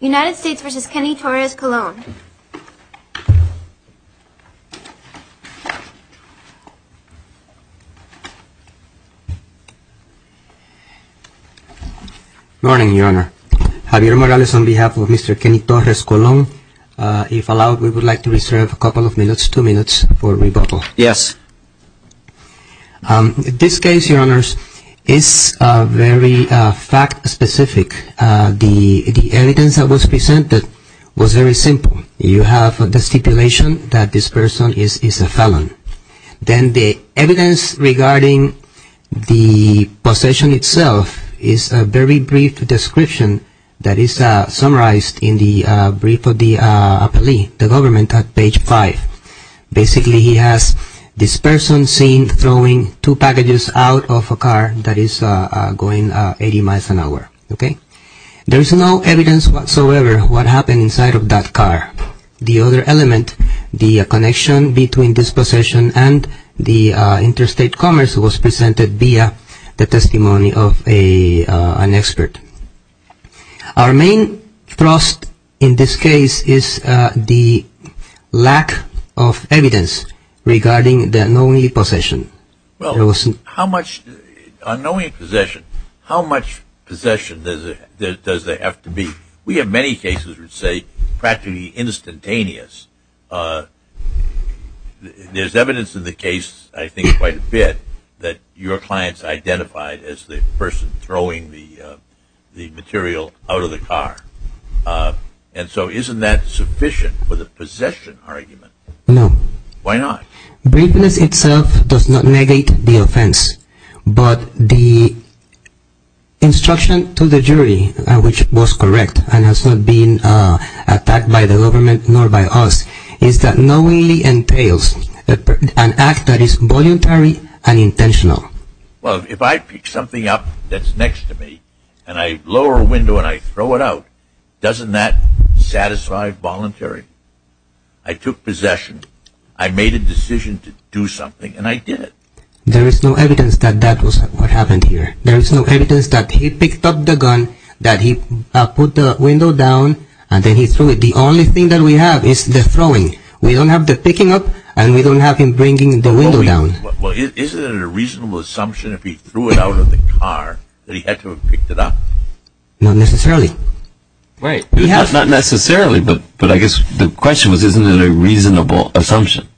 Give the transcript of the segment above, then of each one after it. United States v. Kenny Torres-Colon Good morning, Your Honor. Javier Morales on behalf of Mr. Kenny Torres-Colon. If allowed, we would like to reserve a couple of minutes, two minutes, for rebuttal. Yes. This case, Your Honors, is very fact-specific. The evidence that was presented was very simple. You have the stipulation that this person is a felon. Then the evidence regarding the possession itself is a very brief description that is summarized in the brief of the appellee, the government, at page 5. Basically, he has this person seen throwing two packages out of a car that is going 80 miles an hour. There is no evidence whatsoever what happened inside of that car. The other element, the connection between this possession and the interstate commerce was presented via the testimony of an expert. Our main thrust in this case is the lack of evidence regarding the unknowing possession. Well, how much unknowing possession, how much possession does there have to be? We have many cases which say practically instantaneous. There is evidence in the case, I think quite a bit, that your client is identified as the person throwing the material out of the car. Isn't that sufficient for the possession argument? No. Why not? But the instruction to the jury, which was correct and has not been attacked by the government nor by us, is that knowingly entails an act that is voluntary and intentional. Well, if I pick something up that's next to me and I lower a window and I throw it out, doesn't that satisfy voluntary? I took possession. I made a decision to do something and I did it. There is no evidence that that was what happened here. There is no evidence that he picked up the gun, that he put the window down and then he threw it. The only thing that we have is the throwing. We don't have the picking up and we don't have him bringing the window down. Well, isn't it a reasonable assumption if he threw it out of the car that he had to have picked it up? Not necessarily. Right. Not necessarily, but I guess the question was isn't it a reasonable assumption?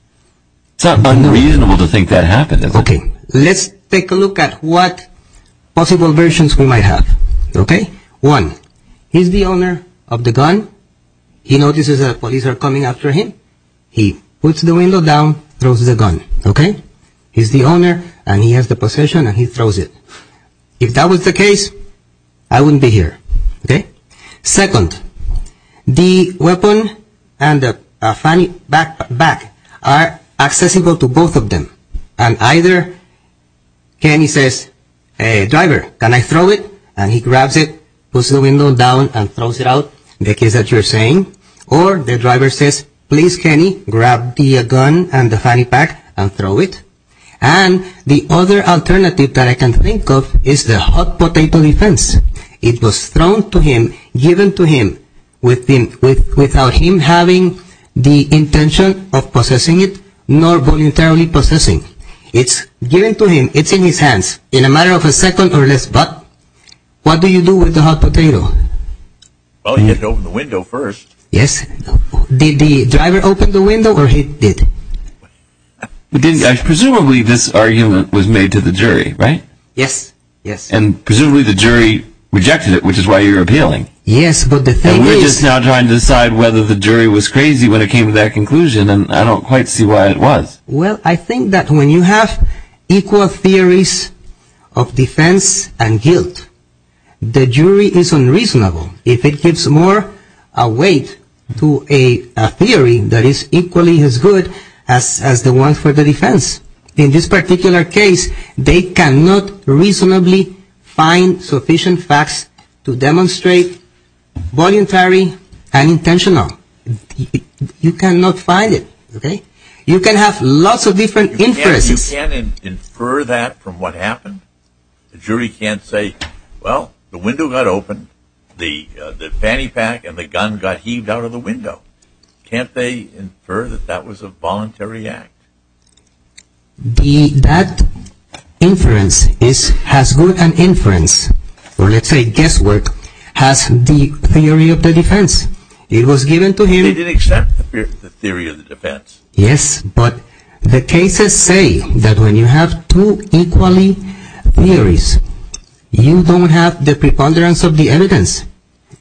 It's not unreasonable to think that happened, is it? Okay, let's take a look at what possible versions we might have, okay? One, he's the owner of the gun. He notices that the police are coming after him. He puts the window down, throws the gun, okay? He's the owner and he has the possession and he throws it. If that was the case, I wouldn't be here, okay? Second, the weapon and the fanny pack are accessible to both of them. And either Kenny says, hey driver, can I throw it? And he grabs it, puts the window down and throws it out, the case that you're saying. Or the driver says, please Kenny, grab the gun and the fanny pack and throw it. And the other alternative that I can think of is the hot potato defense. It was thrown to him, given to him without him having the intention of possessing it nor voluntarily possessing. It's given to him, it's in his hands in a matter of a second or less, but what do you do with the hot potato? Well, he had to open the window first. Yes. Did the driver open the window or he did? Presumably this argument was made to the jury, right? Yes, yes. And presumably the jury rejected it, which is why you're appealing. Yes, but the thing is... And we're just now trying to decide whether the jury was crazy when it came to that conclusion and I don't quite see why it was. Well, I think that when you have equal theories of defense and guilt, the jury is unreasonable. If it gives more weight to a theory that is equally as good as the one for the defense. In this particular case, they cannot reasonably find sufficient facts to demonstrate voluntary and intentional. You cannot find it, okay? You can have lots of different inferences. You can't infer that from what happened. The jury can't say, well, the window got opened, the fanny pack and the gun got heaved out of the window. Can't they infer that that was a voluntary act? That inference has good inference, or let's say guesswork, has the theory of the defense. It was given to him... They didn't accept the theory of the defense. Yes, but the cases say that when you have two equally theories, you don't have the preponderance of the evidence.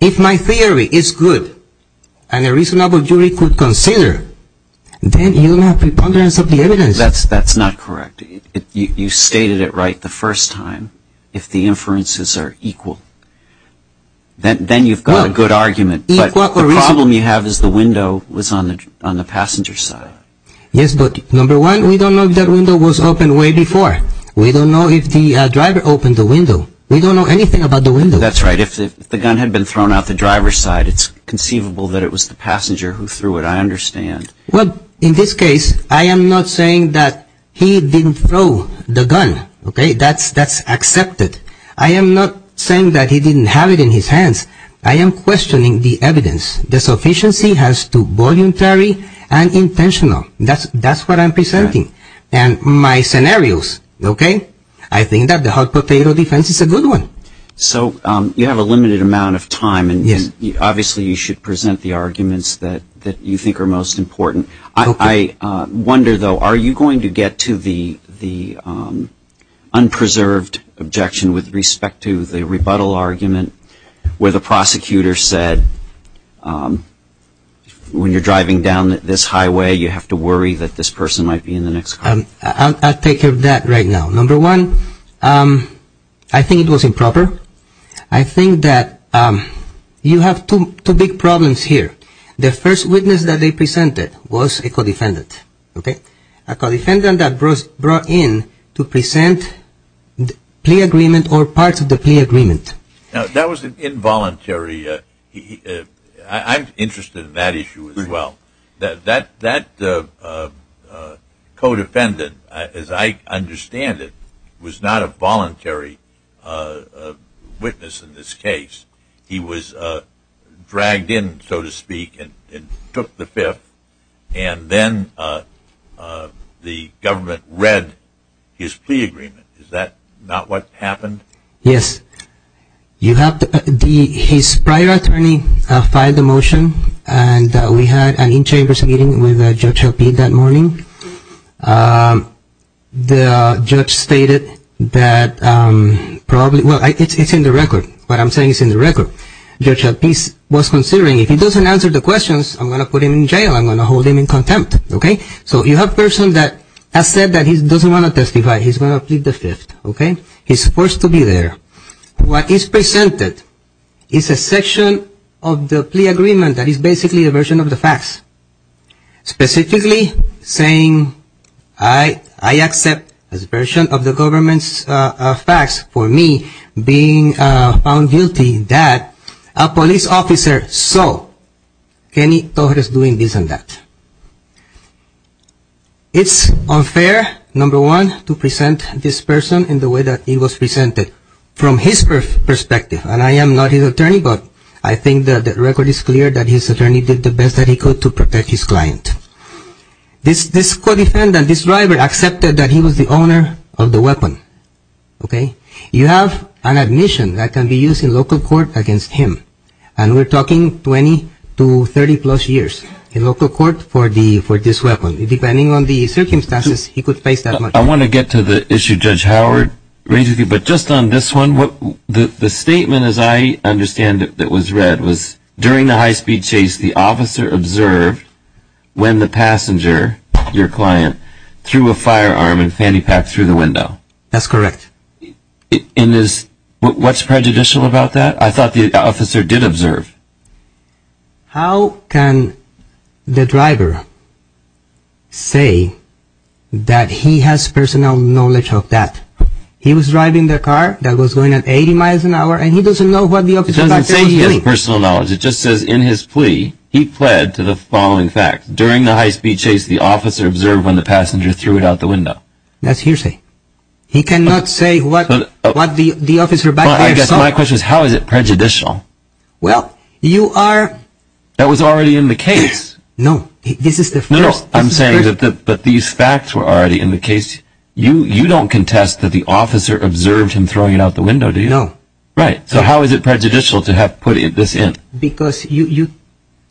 If my theory is good and a reasonable jury could consider, then you don't have preponderance of the evidence. That's not correct. You stated it right the first time. If the inferences are equal, then you've got a good argument. But the problem you have is the window was on the passenger side. Yes, but number one, we don't know if that window was opened way before. We don't know if the driver opened the window. We don't know anything about the window. That's right. If the gun had been thrown out the driver's side, it's conceivable that it was the passenger who threw it. I understand. Well, in this case, I am not saying that he didn't throw the gun. That's accepted. I am not saying that he didn't have it in his hands. I am questioning the evidence. The sufficiency has to be voluntary and intentional. That's what I'm presenting and my scenarios. I think that the hot potato defense is a good one. So, you have a limited amount of time, and obviously you should present the arguments that you think are most important. I wonder, though, are you going to get to the unpreserved objection with respect to the rebuttal argument where the prosecutor said, when you're driving down this highway, you have to worry that this person might be in the next car? I'll take care of that right now. Number one, I think it was improper. I think that you have two big problems here. The first witness that they presented was a co-defendant. A co-defendant that brought in to present the plea agreement or parts of the plea agreement. That was involuntary. I'm interested in that issue as well. That co-defendant, as I understand it, was not a voluntary witness in this case. He was dragged in, so to speak, and took the fifth, and then the government read his plea agreement. Is that not what happened? Yes. His prior attorney filed the motion, and we had an in-chambers meeting with Judge Helpe that morning. The judge stated that, well, it's in the record, but I'm saying it's in the record. Judge Helpe was considering, if he doesn't answer the questions, I'm going to put him in jail. I'm going to hold him in contempt. So you have a person that has said that he doesn't want to testify. He's going to plead the fifth. He's forced to be there. What is presented is a section of the plea agreement that is basically a version of the facts. Specifically saying, I accept as a version of the government's facts for me being found guilty that a police officer saw Kenny Torres doing this and that. It's unfair, number one, to present this person in the way that he was presented from his perspective. And I am not his attorney, but I think that the record is clear that his attorney did the best that he could to protect his client. This co-defendant, this driver, accepted that he was the owner of the weapon. You have an admission that can be used in local court against him. And we're talking 20 to 30 plus years in local court for this weapon. Depending on the circumstances, he could face that much. I want to get to the issue Judge Howard raised with you. But just on this one, the statement as I understand it that was read was during the high-speed chase, the officer observed when the passenger, your client, threw a firearm and fanny pack through the window. That's correct. What's prejudicial about that? I thought the officer did observe. How can the driver say that he has personal knowledge of that? He was driving the car that was going at 80 miles an hour and he doesn't know what the officer was doing. It doesn't say he has personal knowledge. It just says in his plea, he pled to the following facts. During the high-speed chase, the officer observed when the passenger threw it out the window. That's hearsay. He cannot say what the officer back there saw. My question is how is it prejudicial? Well, you are... That was already in the case. No, this is the first... No, I'm saying that these facts were already in the case. You don't contest that the officer observed him throwing it out the window, do you? No. Right. So how is it prejudicial to have put this in? Because you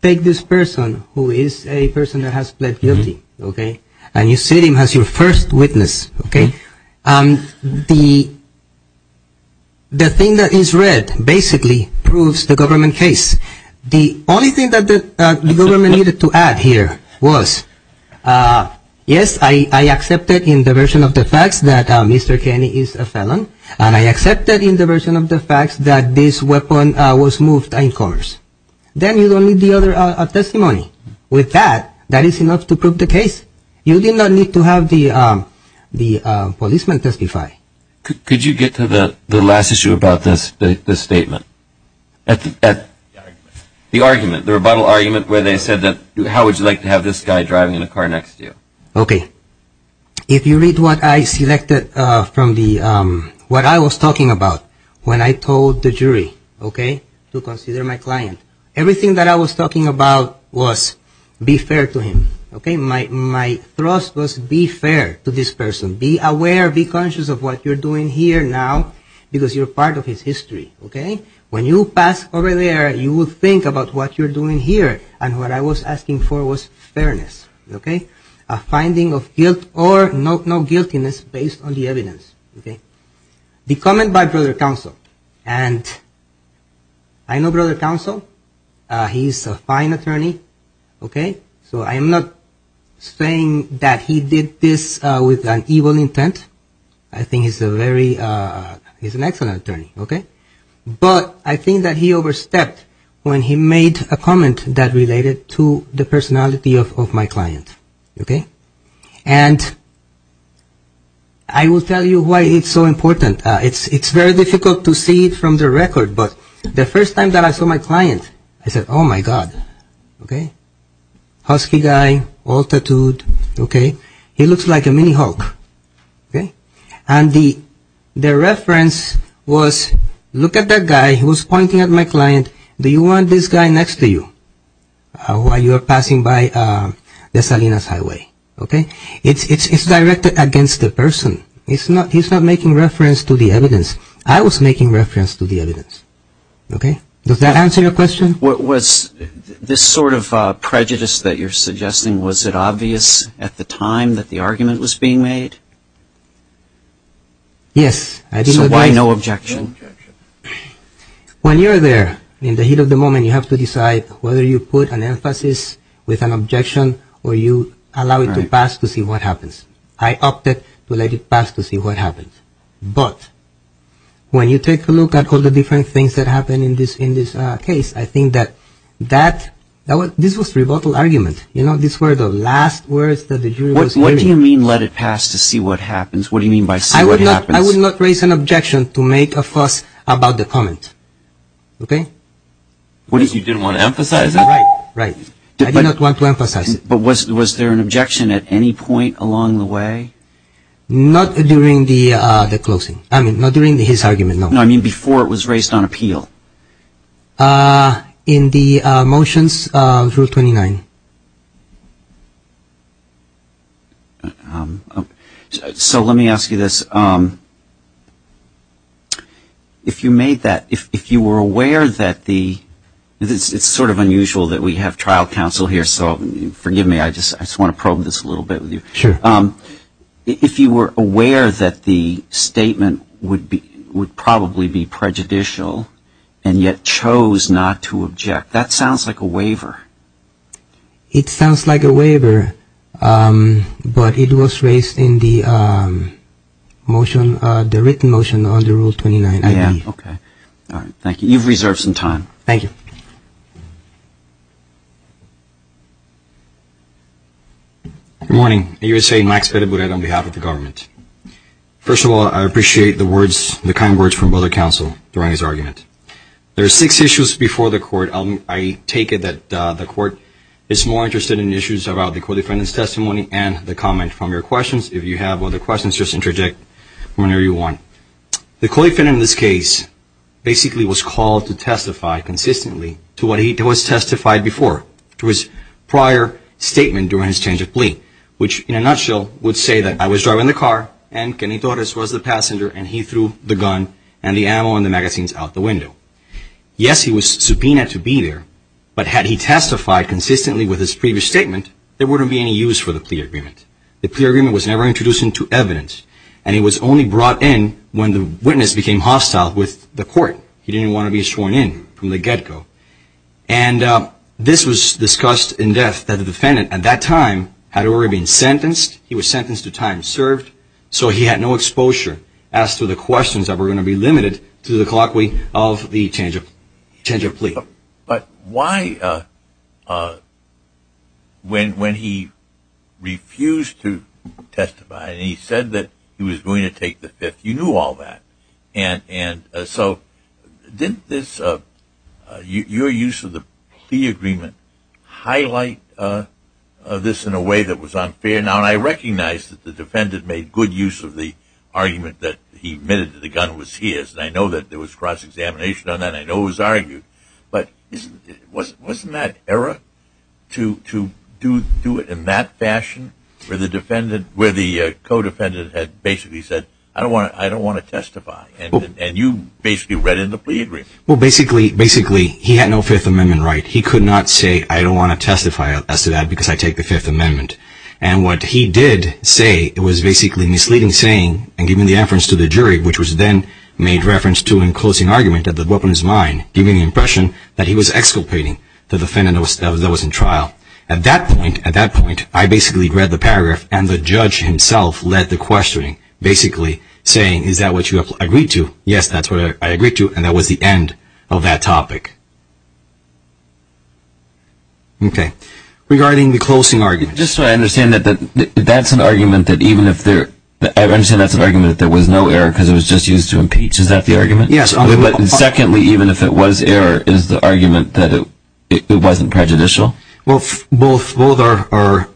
take this person who is a person that has pled guilty. And you see him as your first witness. The thing that is read basically proves the government case. The only thing that the government needed to add here was, yes, I accepted in the version of the facts that Mr. Kenny is a felon. And I accepted in the version of the facts that this weapon was moved in cars. Then you don't need the other testimony. With that, that is enough to prove the case. You do not need to have the policeman testify. Could you get to the last issue about this statement? The argument, the rebuttal argument where they said that, how would you like to have this guy driving in a car next to you? Okay. If you read what I selected from the... what I was talking about when I told the jury, okay, to consider my client. Everything that I was talking about was, be fair to him. My thrust was, be fair to this person. Be aware, be conscious of what you're doing here now, because you're part of his history. When you pass over there, you will think about what you're doing here. And what I was asking for was fairness. A finding of guilt or no guiltiness based on the evidence. The comment by Brother Counsel. And I know Brother Counsel. He's a fine attorney. Okay. So I'm not saying that he did this with an evil intent. I think he's a very... he's an excellent attorney. Okay. But I think that he overstepped when he made a comment that related to the personality of my client. Okay. And I will tell you why it's so important. It's very difficult to see it from the record, but the first time that I saw my client, I said, oh my God. Okay. Husky guy, all tattooed. Okay. He looks like a mini Hulk. Okay. And the reference was, look at that guy. He was pointing at my client. Do you want this guy next to you while you are passing by the Salinas Highway? Okay. It's directed against the person. He's not making reference to the evidence. I was making reference to the evidence. Okay. Does that answer your question? Was this sort of prejudice that you're suggesting, was it obvious at the time that the argument was being made? Yes. I didn't... So why no objection? When you're there, in the heat of the moment, you have to decide whether you put an emphasis with an objection or you allow it to pass to see what happens. I opted to let it pass to see what happens. But when you take a look at all the different things that happened in this case, I think that this was a rebuttal argument. You know, these were the last words that the jury was hearing. What do you mean let it pass to see what happens? What do you mean by see what happens? I would not raise an objection to make a fuss about the comment. Okay. What is it? You didn't want to emphasize it? Right. I did not want to emphasize it. But was there an objection at any point along the way? Not during the closing. I mean, not during his argument, no. No, I mean before it was raised on appeal. In the motions, Rule 29. So let me ask you this. If you made that, if you were aware that the... It's sort of unusual that we have trial counsel here, so forgive me, I just want to probe this a little bit with you. Sure. If you were aware that the statement would probably be prejudicial, and yet chose not to object, that sounds like a waiver. It sounds like a waiver, but it was raised in the motion, the written motion under Rule 29. Yeah, okay. All right. Thank you. You've reserved some time. Thank you. Good morning. USA Max Pettibure on behalf of the government. First of all, I appreciate the words, the kind words from other counsel during his argument. There are six issues before the court. I take it that the court is more interested in issues about the co-defendant's testimony and the comment from your questions. If you have other questions, just interject whenever you want. The co-defendant in this case basically was called to testify consistently to what he was testified before. To his prior statement during his change of plea, which in a nutshell would say that I was driving the car and Kenny Torres was the passenger and he threw the gun and the ammo and the magazines out the window. Yes, he was subpoenaed to be there, but had he testified consistently with his previous statement, there wouldn't be any use for the plea agreement. The plea agreement was never introduced into evidence and it was only brought in when the witness became hostile with the court. He didn't want to be sworn in from the get-go. And this was discussed in depth that the defendant at that time had already been sentenced. He was sentenced to time served, so he had no exposure as to the questions that were going to be limited to the colloquy of the change of plea. But why when he refused to testify and he said that he was going to take the fifth, you knew all that. So didn't your use of the plea agreement highlight this in a way that was unfair? Now I recognize that the defendant made good use of the argument that he admitted that the gun was his. I know that there was cross-examination on that. I know it was argued. But wasn't that error to do it in that fashion where the co-defendant had basically said, I don't want to testify. And you basically read in the plea agreement. Well, basically, he had no Fifth Amendment right. He could not say, I don't want to testify as to that because I take the Fifth Amendment. And what he did say was basically misleading saying and giving the inference to the jury, which was then made reference to in closing argument that the weapon was mine, giving the impression that he was exculpating the defendant that was in trial. At that point, I basically read the paragraph and the judge himself led the questioning. Basically saying, is that what you agreed to? Yes, that's what I agreed to. And that was the end of that topic. Okay. Regarding the closing argument. Just so I understand, that's an argument that even if there, I understand that's an argument that there was no error because it was just used to impeach. Is that the argument? Yes. And secondly, even if it was error, is the argument that it wasn't prejudicial? Well, both are.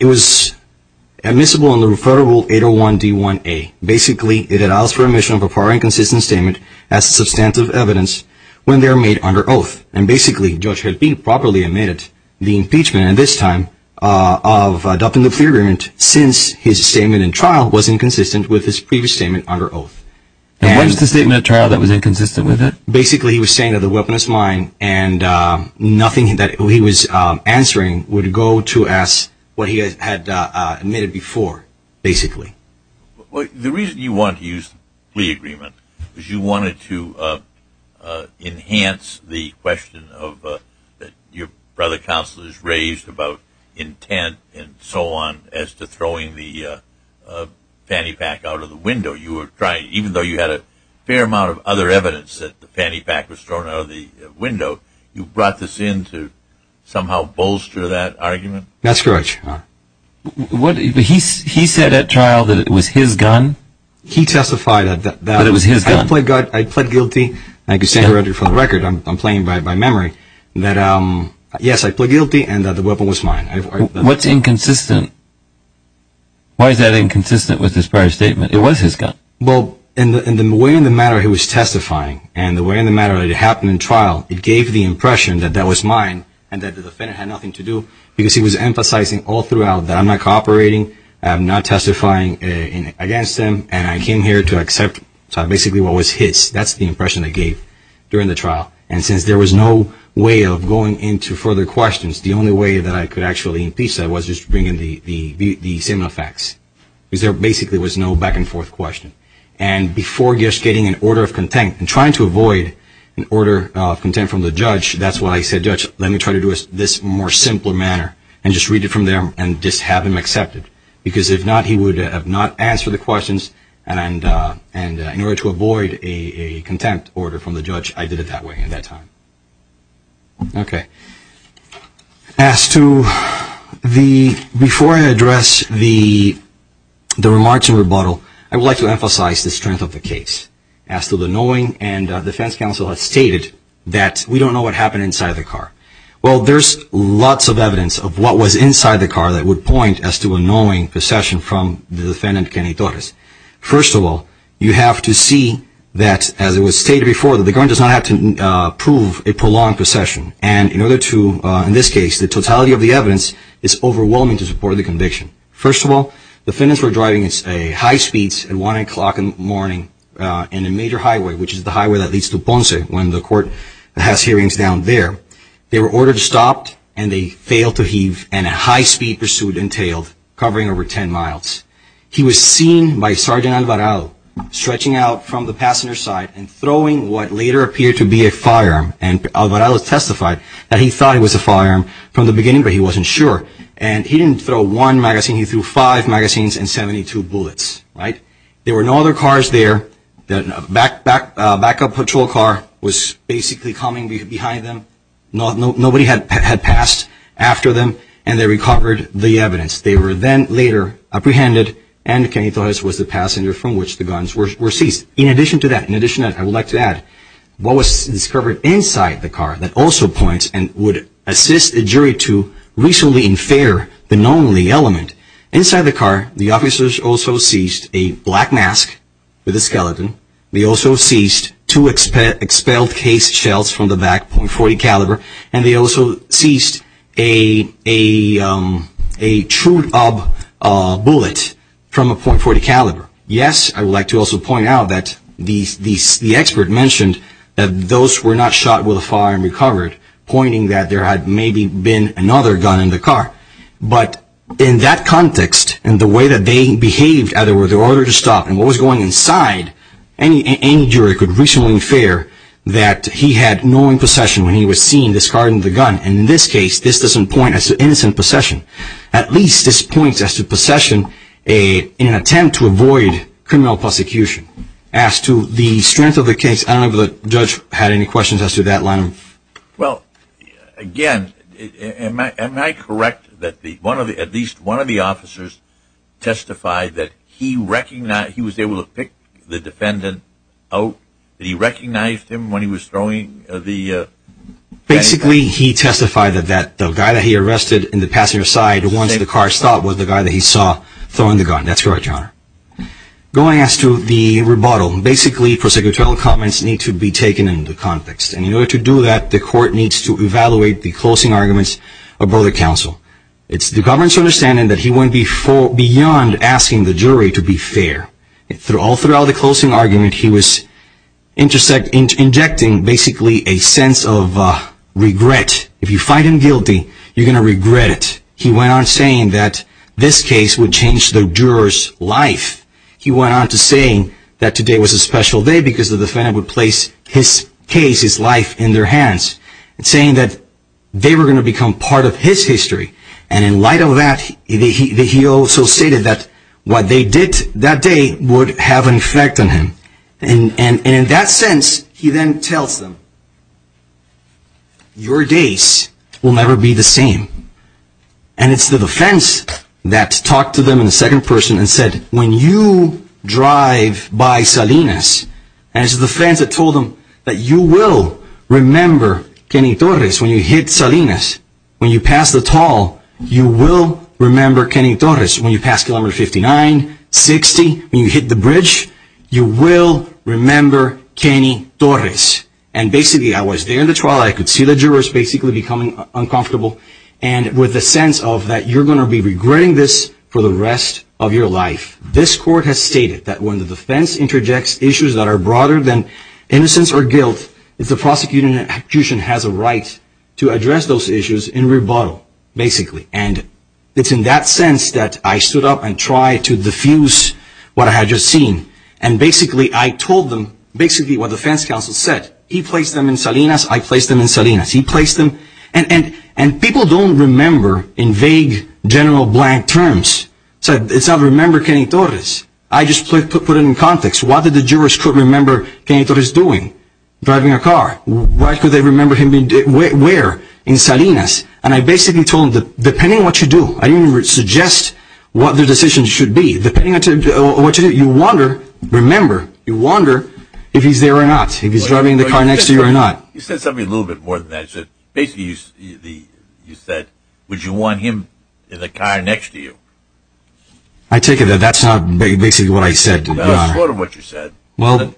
It was admissible in the Referral Rule 801 D1A. Basically, it allows for admission of a prior inconsistent statement as substantive evidence when they are made under oath. And basically, Judge Helping properly admitted the impeachment, and this time of adopting the clear agreement since his statement in trial was inconsistent with his previous statement under oath. And what was the statement in trial that was inconsistent with it? Basically, he was saying that the weapon was mine and nothing that he was answering would go to ask what he had admitted before, basically. The reason you want to use the plea agreement is you wanted to enhance the question that your brother counsel has raised about intent and so on as to throwing the fanny pack out of the window. You were trying, even though you had a fair amount of other evidence that the fanny pack was thrown out of the window, you brought this in to somehow bolster that argument? That's correct, Your Honor. He said at trial that it was his gun? He testified that it was his gun. I pled guilty. I can say for the record, I'm playing by memory, that yes, I pled guilty and that the weapon was mine. What's inconsistent? Why is that inconsistent with his prior statement? It was his gun. Well, in the way in the manner he was testifying and the way in the manner it happened in trial, it gave the impression that that was mine and that the defendant had nothing to do because he was emphasizing all throughout that I'm not cooperating, I'm not testifying against him, and I came here to accept basically what was his. That's the impression I gave during the trial. And since there was no way of going into further questions, the only way that I could actually impeach that was just to bring in the seminal facts because there basically was no back and forth question. And before just getting an order of contempt and trying to avoid an order of contempt from the judge, that's when I said, Judge, let me try to do this in a more simple manner and just read it from there and just have him accept it. Because if not, he would have not answered the questions and in order to avoid a contempt order from the judge, I did it that way at that time. Okay. As to the, before I address the remarks in rebuttal, I would like to emphasize the strength of the case. As to the knowing, and the defense counsel has stated that we don't know what happened inside the car. Well, there's lots of evidence of what was inside the car that would point as to a knowing possession from the defendant, Kenny Torres. First of all, you have to see that, as it was stated before, that the gun does not have to prove a prolonged possession. And in order to, in this case, the totality of the evidence is overwhelming to support the conviction. First of all, the defendants were driving at high speeds at 1 o'clock in the morning in a major highway, which is the highway that leads to Ponce, when the court has hearings down there. They were ordered to stop and they failed to heave and a high-speed pursuit entailed, covering over 10 miles. He was seen by Sergeant Alvarado, stretching out from the passenger side and throwing what later appeared to be a firearm. And Alvarado testified that he thought it was a firearm from the beginning, but he wasn't sure. And he didn't throw one magazine, he threw five magazines and 72 bullets. There were no other cars there. A backup patrol car was basically coming behind them. Nobody had passed after them and they recovered the evidence. They were then later apprehended and Kenny Torres was the passenger from which the guns were seized. In addition to that, I would like to add, what was discovered inside the car that also points and would assist the jury to reasonably infer the knownly element. Inside the car, the officers also seized a black mask with a skeleton. They also seized two expelled case shells from the back, .40 caliber, and they also seized a trued-up bullet from a .40 caliber. Yes, I would like to also point out that the expert mentioned that those were not shot with a firearm recovered, pointing that there had maybe been another gun in the car. But in that context, in the way that they behaved, in order to stop and what was going on inside, any jury could reasonably infer that he had knowing possession when he was seen discarding the gun. In this case, this doesn't point to innocent possession. At least this points to possession in an attempt to avoid criminal prosecution. As to the strength of the case, I don't know if the judge had any questions as to that, Lanham. Well, again, am I correct that at least one of the officers testified that he was able to pick the defendant out? That he recognized him when he was throwing the... Basically, he testified that the guy that he arrested in the passenger side once the car stopped was the guy that he saw throwing the gun. That's correct, John. Going as to the rebuttal, basically prosecutorial comments need to be taken into context. And in order to do that, the court needs to evaluate the closing arguments of both the counsel. It's the government's understanding that he went beyond asking the jury to be fair. All throughout the closing argument, he was injecting basically a sense of regret. If you find him guilty, you're going to regret it. He went on saying that this case would change the juror's life. He went on to saying that today was a special day because the defendant would place his case, his life, in their hands. Saying that they were going to become part of his history. And in light of that, he also stated that what they did that day would have an effect on him. And in that sense, he then tells them, your days will never be the same. And it's the defense that talked to them in the second person and said, when you drive by Salinas, and it's the defense that told them that you will remember Kenny Torres when you hit Salinas. When you pass the toll, you will remember Kenny Torres. When you pass kilometer 59, 60, when you hit the bridge, you will remember Kenny Torres. And basically, I was there in the trial. I could see the jurors basically becoming uncomfortable. And with the sense of that you're going to be regretting this for the rest of your life. This court has stated that when the defense interjects issues that are broader than innocence or guilt, the prosecution has a right to address those issues in rebuttal. Basically. And it's in that sense that I stood up and tried to diffuse what I had just seen. And basically, I told them basically what the defense counsel said. He placed them in Salinas, I placed them in Salinas. And people don't remember in vague, general, blank terms. It's not remember Kenny Torres. I just put it in context. What did the jurors remember Kenny Torres doing? Driving a car. Why could they remember him being where? In Salinas. And I basically told them depending on what you do, I didn't even suggest what the decision should be. Depending on what you do, you wonder. Remember. You wonder if he's there or not. If he's driving the car next to you or not. You said something a little bit more than that. Basically, you said would you want him in the car next to you? I take it that that's not basically what I said. No, it's sort of what you said. Well,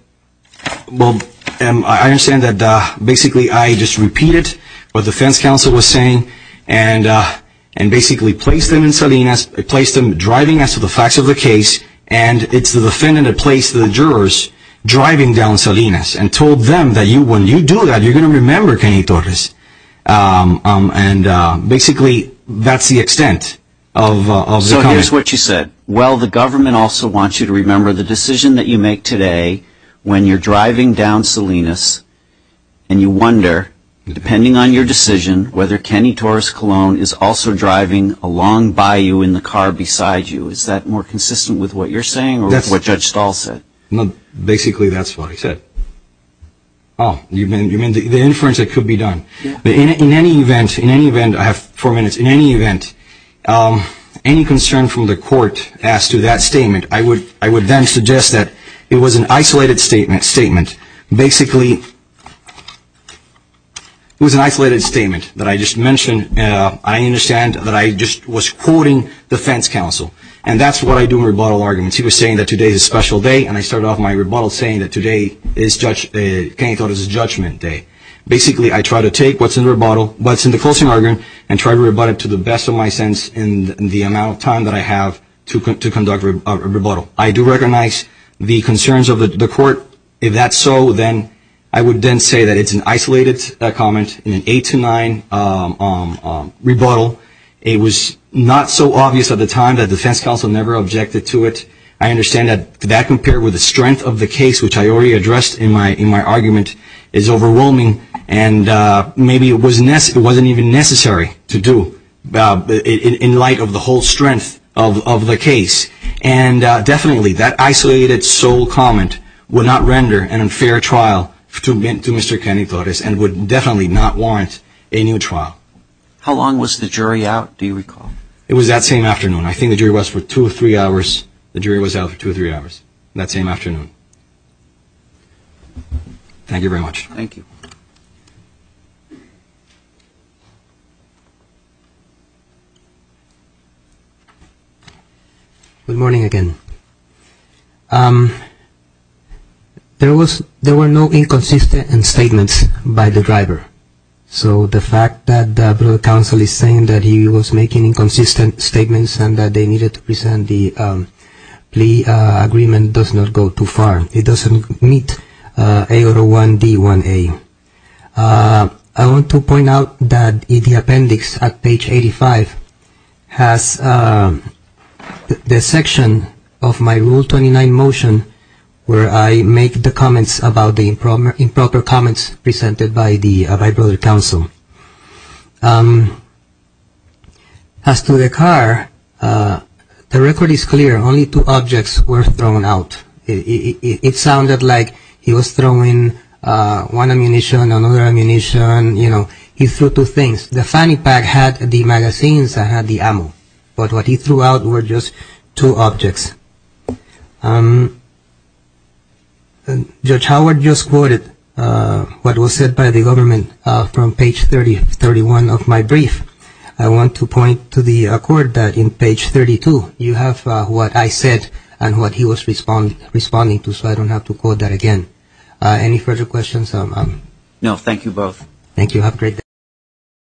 I understand that basically I just repeated what the defense counsel was saying. And basically placed them in Salinas. I placed them driving as to the facts of the case. And it's the defendant that placed the jurors driving down Salinas. And told them that when you do that you're going to remember Kenny Torres. And basically, that's the extent of the comment. So here's what you said. Well, the government also wants you to remember the decision that you make today when you're driving down Salinas and you wonder, depending on your decision, whether Kenny Torres Colon is also driving along by you in the car beside you. Is that more consistent with what you're saying or what Judge Stahl said? Basically, that's what I said. Oh, you mean the inference that could be done. In any event, I have four minutes. In any event, any concern from the court as to that statement, I would then suggest that it was an isolated statement. Basically, it was an isolated statement that I just mentioned. I understand that I just was quoting the defense counsel. And that's what I do in rebuttal arguments. He was saying that today is a special day and I started off my rebuttal saying that today is Kenny Torres' judgment day. Basically, I try to take what's in the rebuttal, what's in the closing argument, and try to rebut it to the best of my sense in the amount of time that I have to conduct a rebuttal. I do recognize the concerns of the court. If that's so, I would then say that it's an isolated comment in an 8-9 rebuttal. It was not so obvious at the time that the defense counsel never objected to it. I understand that that compared with the strength of the case, which I already addressed in my argument, is overwhelming. And maybe it wasn't even necessary to do in light of the whole strength of the case. And definitely, that isolated, sole comment would not render an unfair trial to Mr. Kenny Torres and would definitely not warrant a new trial. How long was the jury out, do you recall? It was that same afternoon. I think the jury was out for two or three hours. The jury was out for two or three hours that same afternoon. Thank you very much. Thank you. Good morning again. There were no inconsistent statements by the driver. So the fact that the counsel is saying that he was making inconsistent statements and that they needed to present the plea agreement does not go too far. It doesn't meet AO1D1A. I want to point out that the appendix at page 85 has the section of my Rule 29 motion where I make the comments about the improper comments presented by my brother counsel. As to the car, the record is clear. Only two objects were thrown out. It sounded like he was throwing one ammunition, another ammunition, you know. He threw two things. The fanny pack had the magazines and had the ammo. But what he threw out were just two objects. Judge Howard just quoted what was said by the government from page 31 of my brief. I want to point to the court that in page 32 you have what I said and what he was responding to. So I don't have to quote that again. Any further questions? No, thank you both.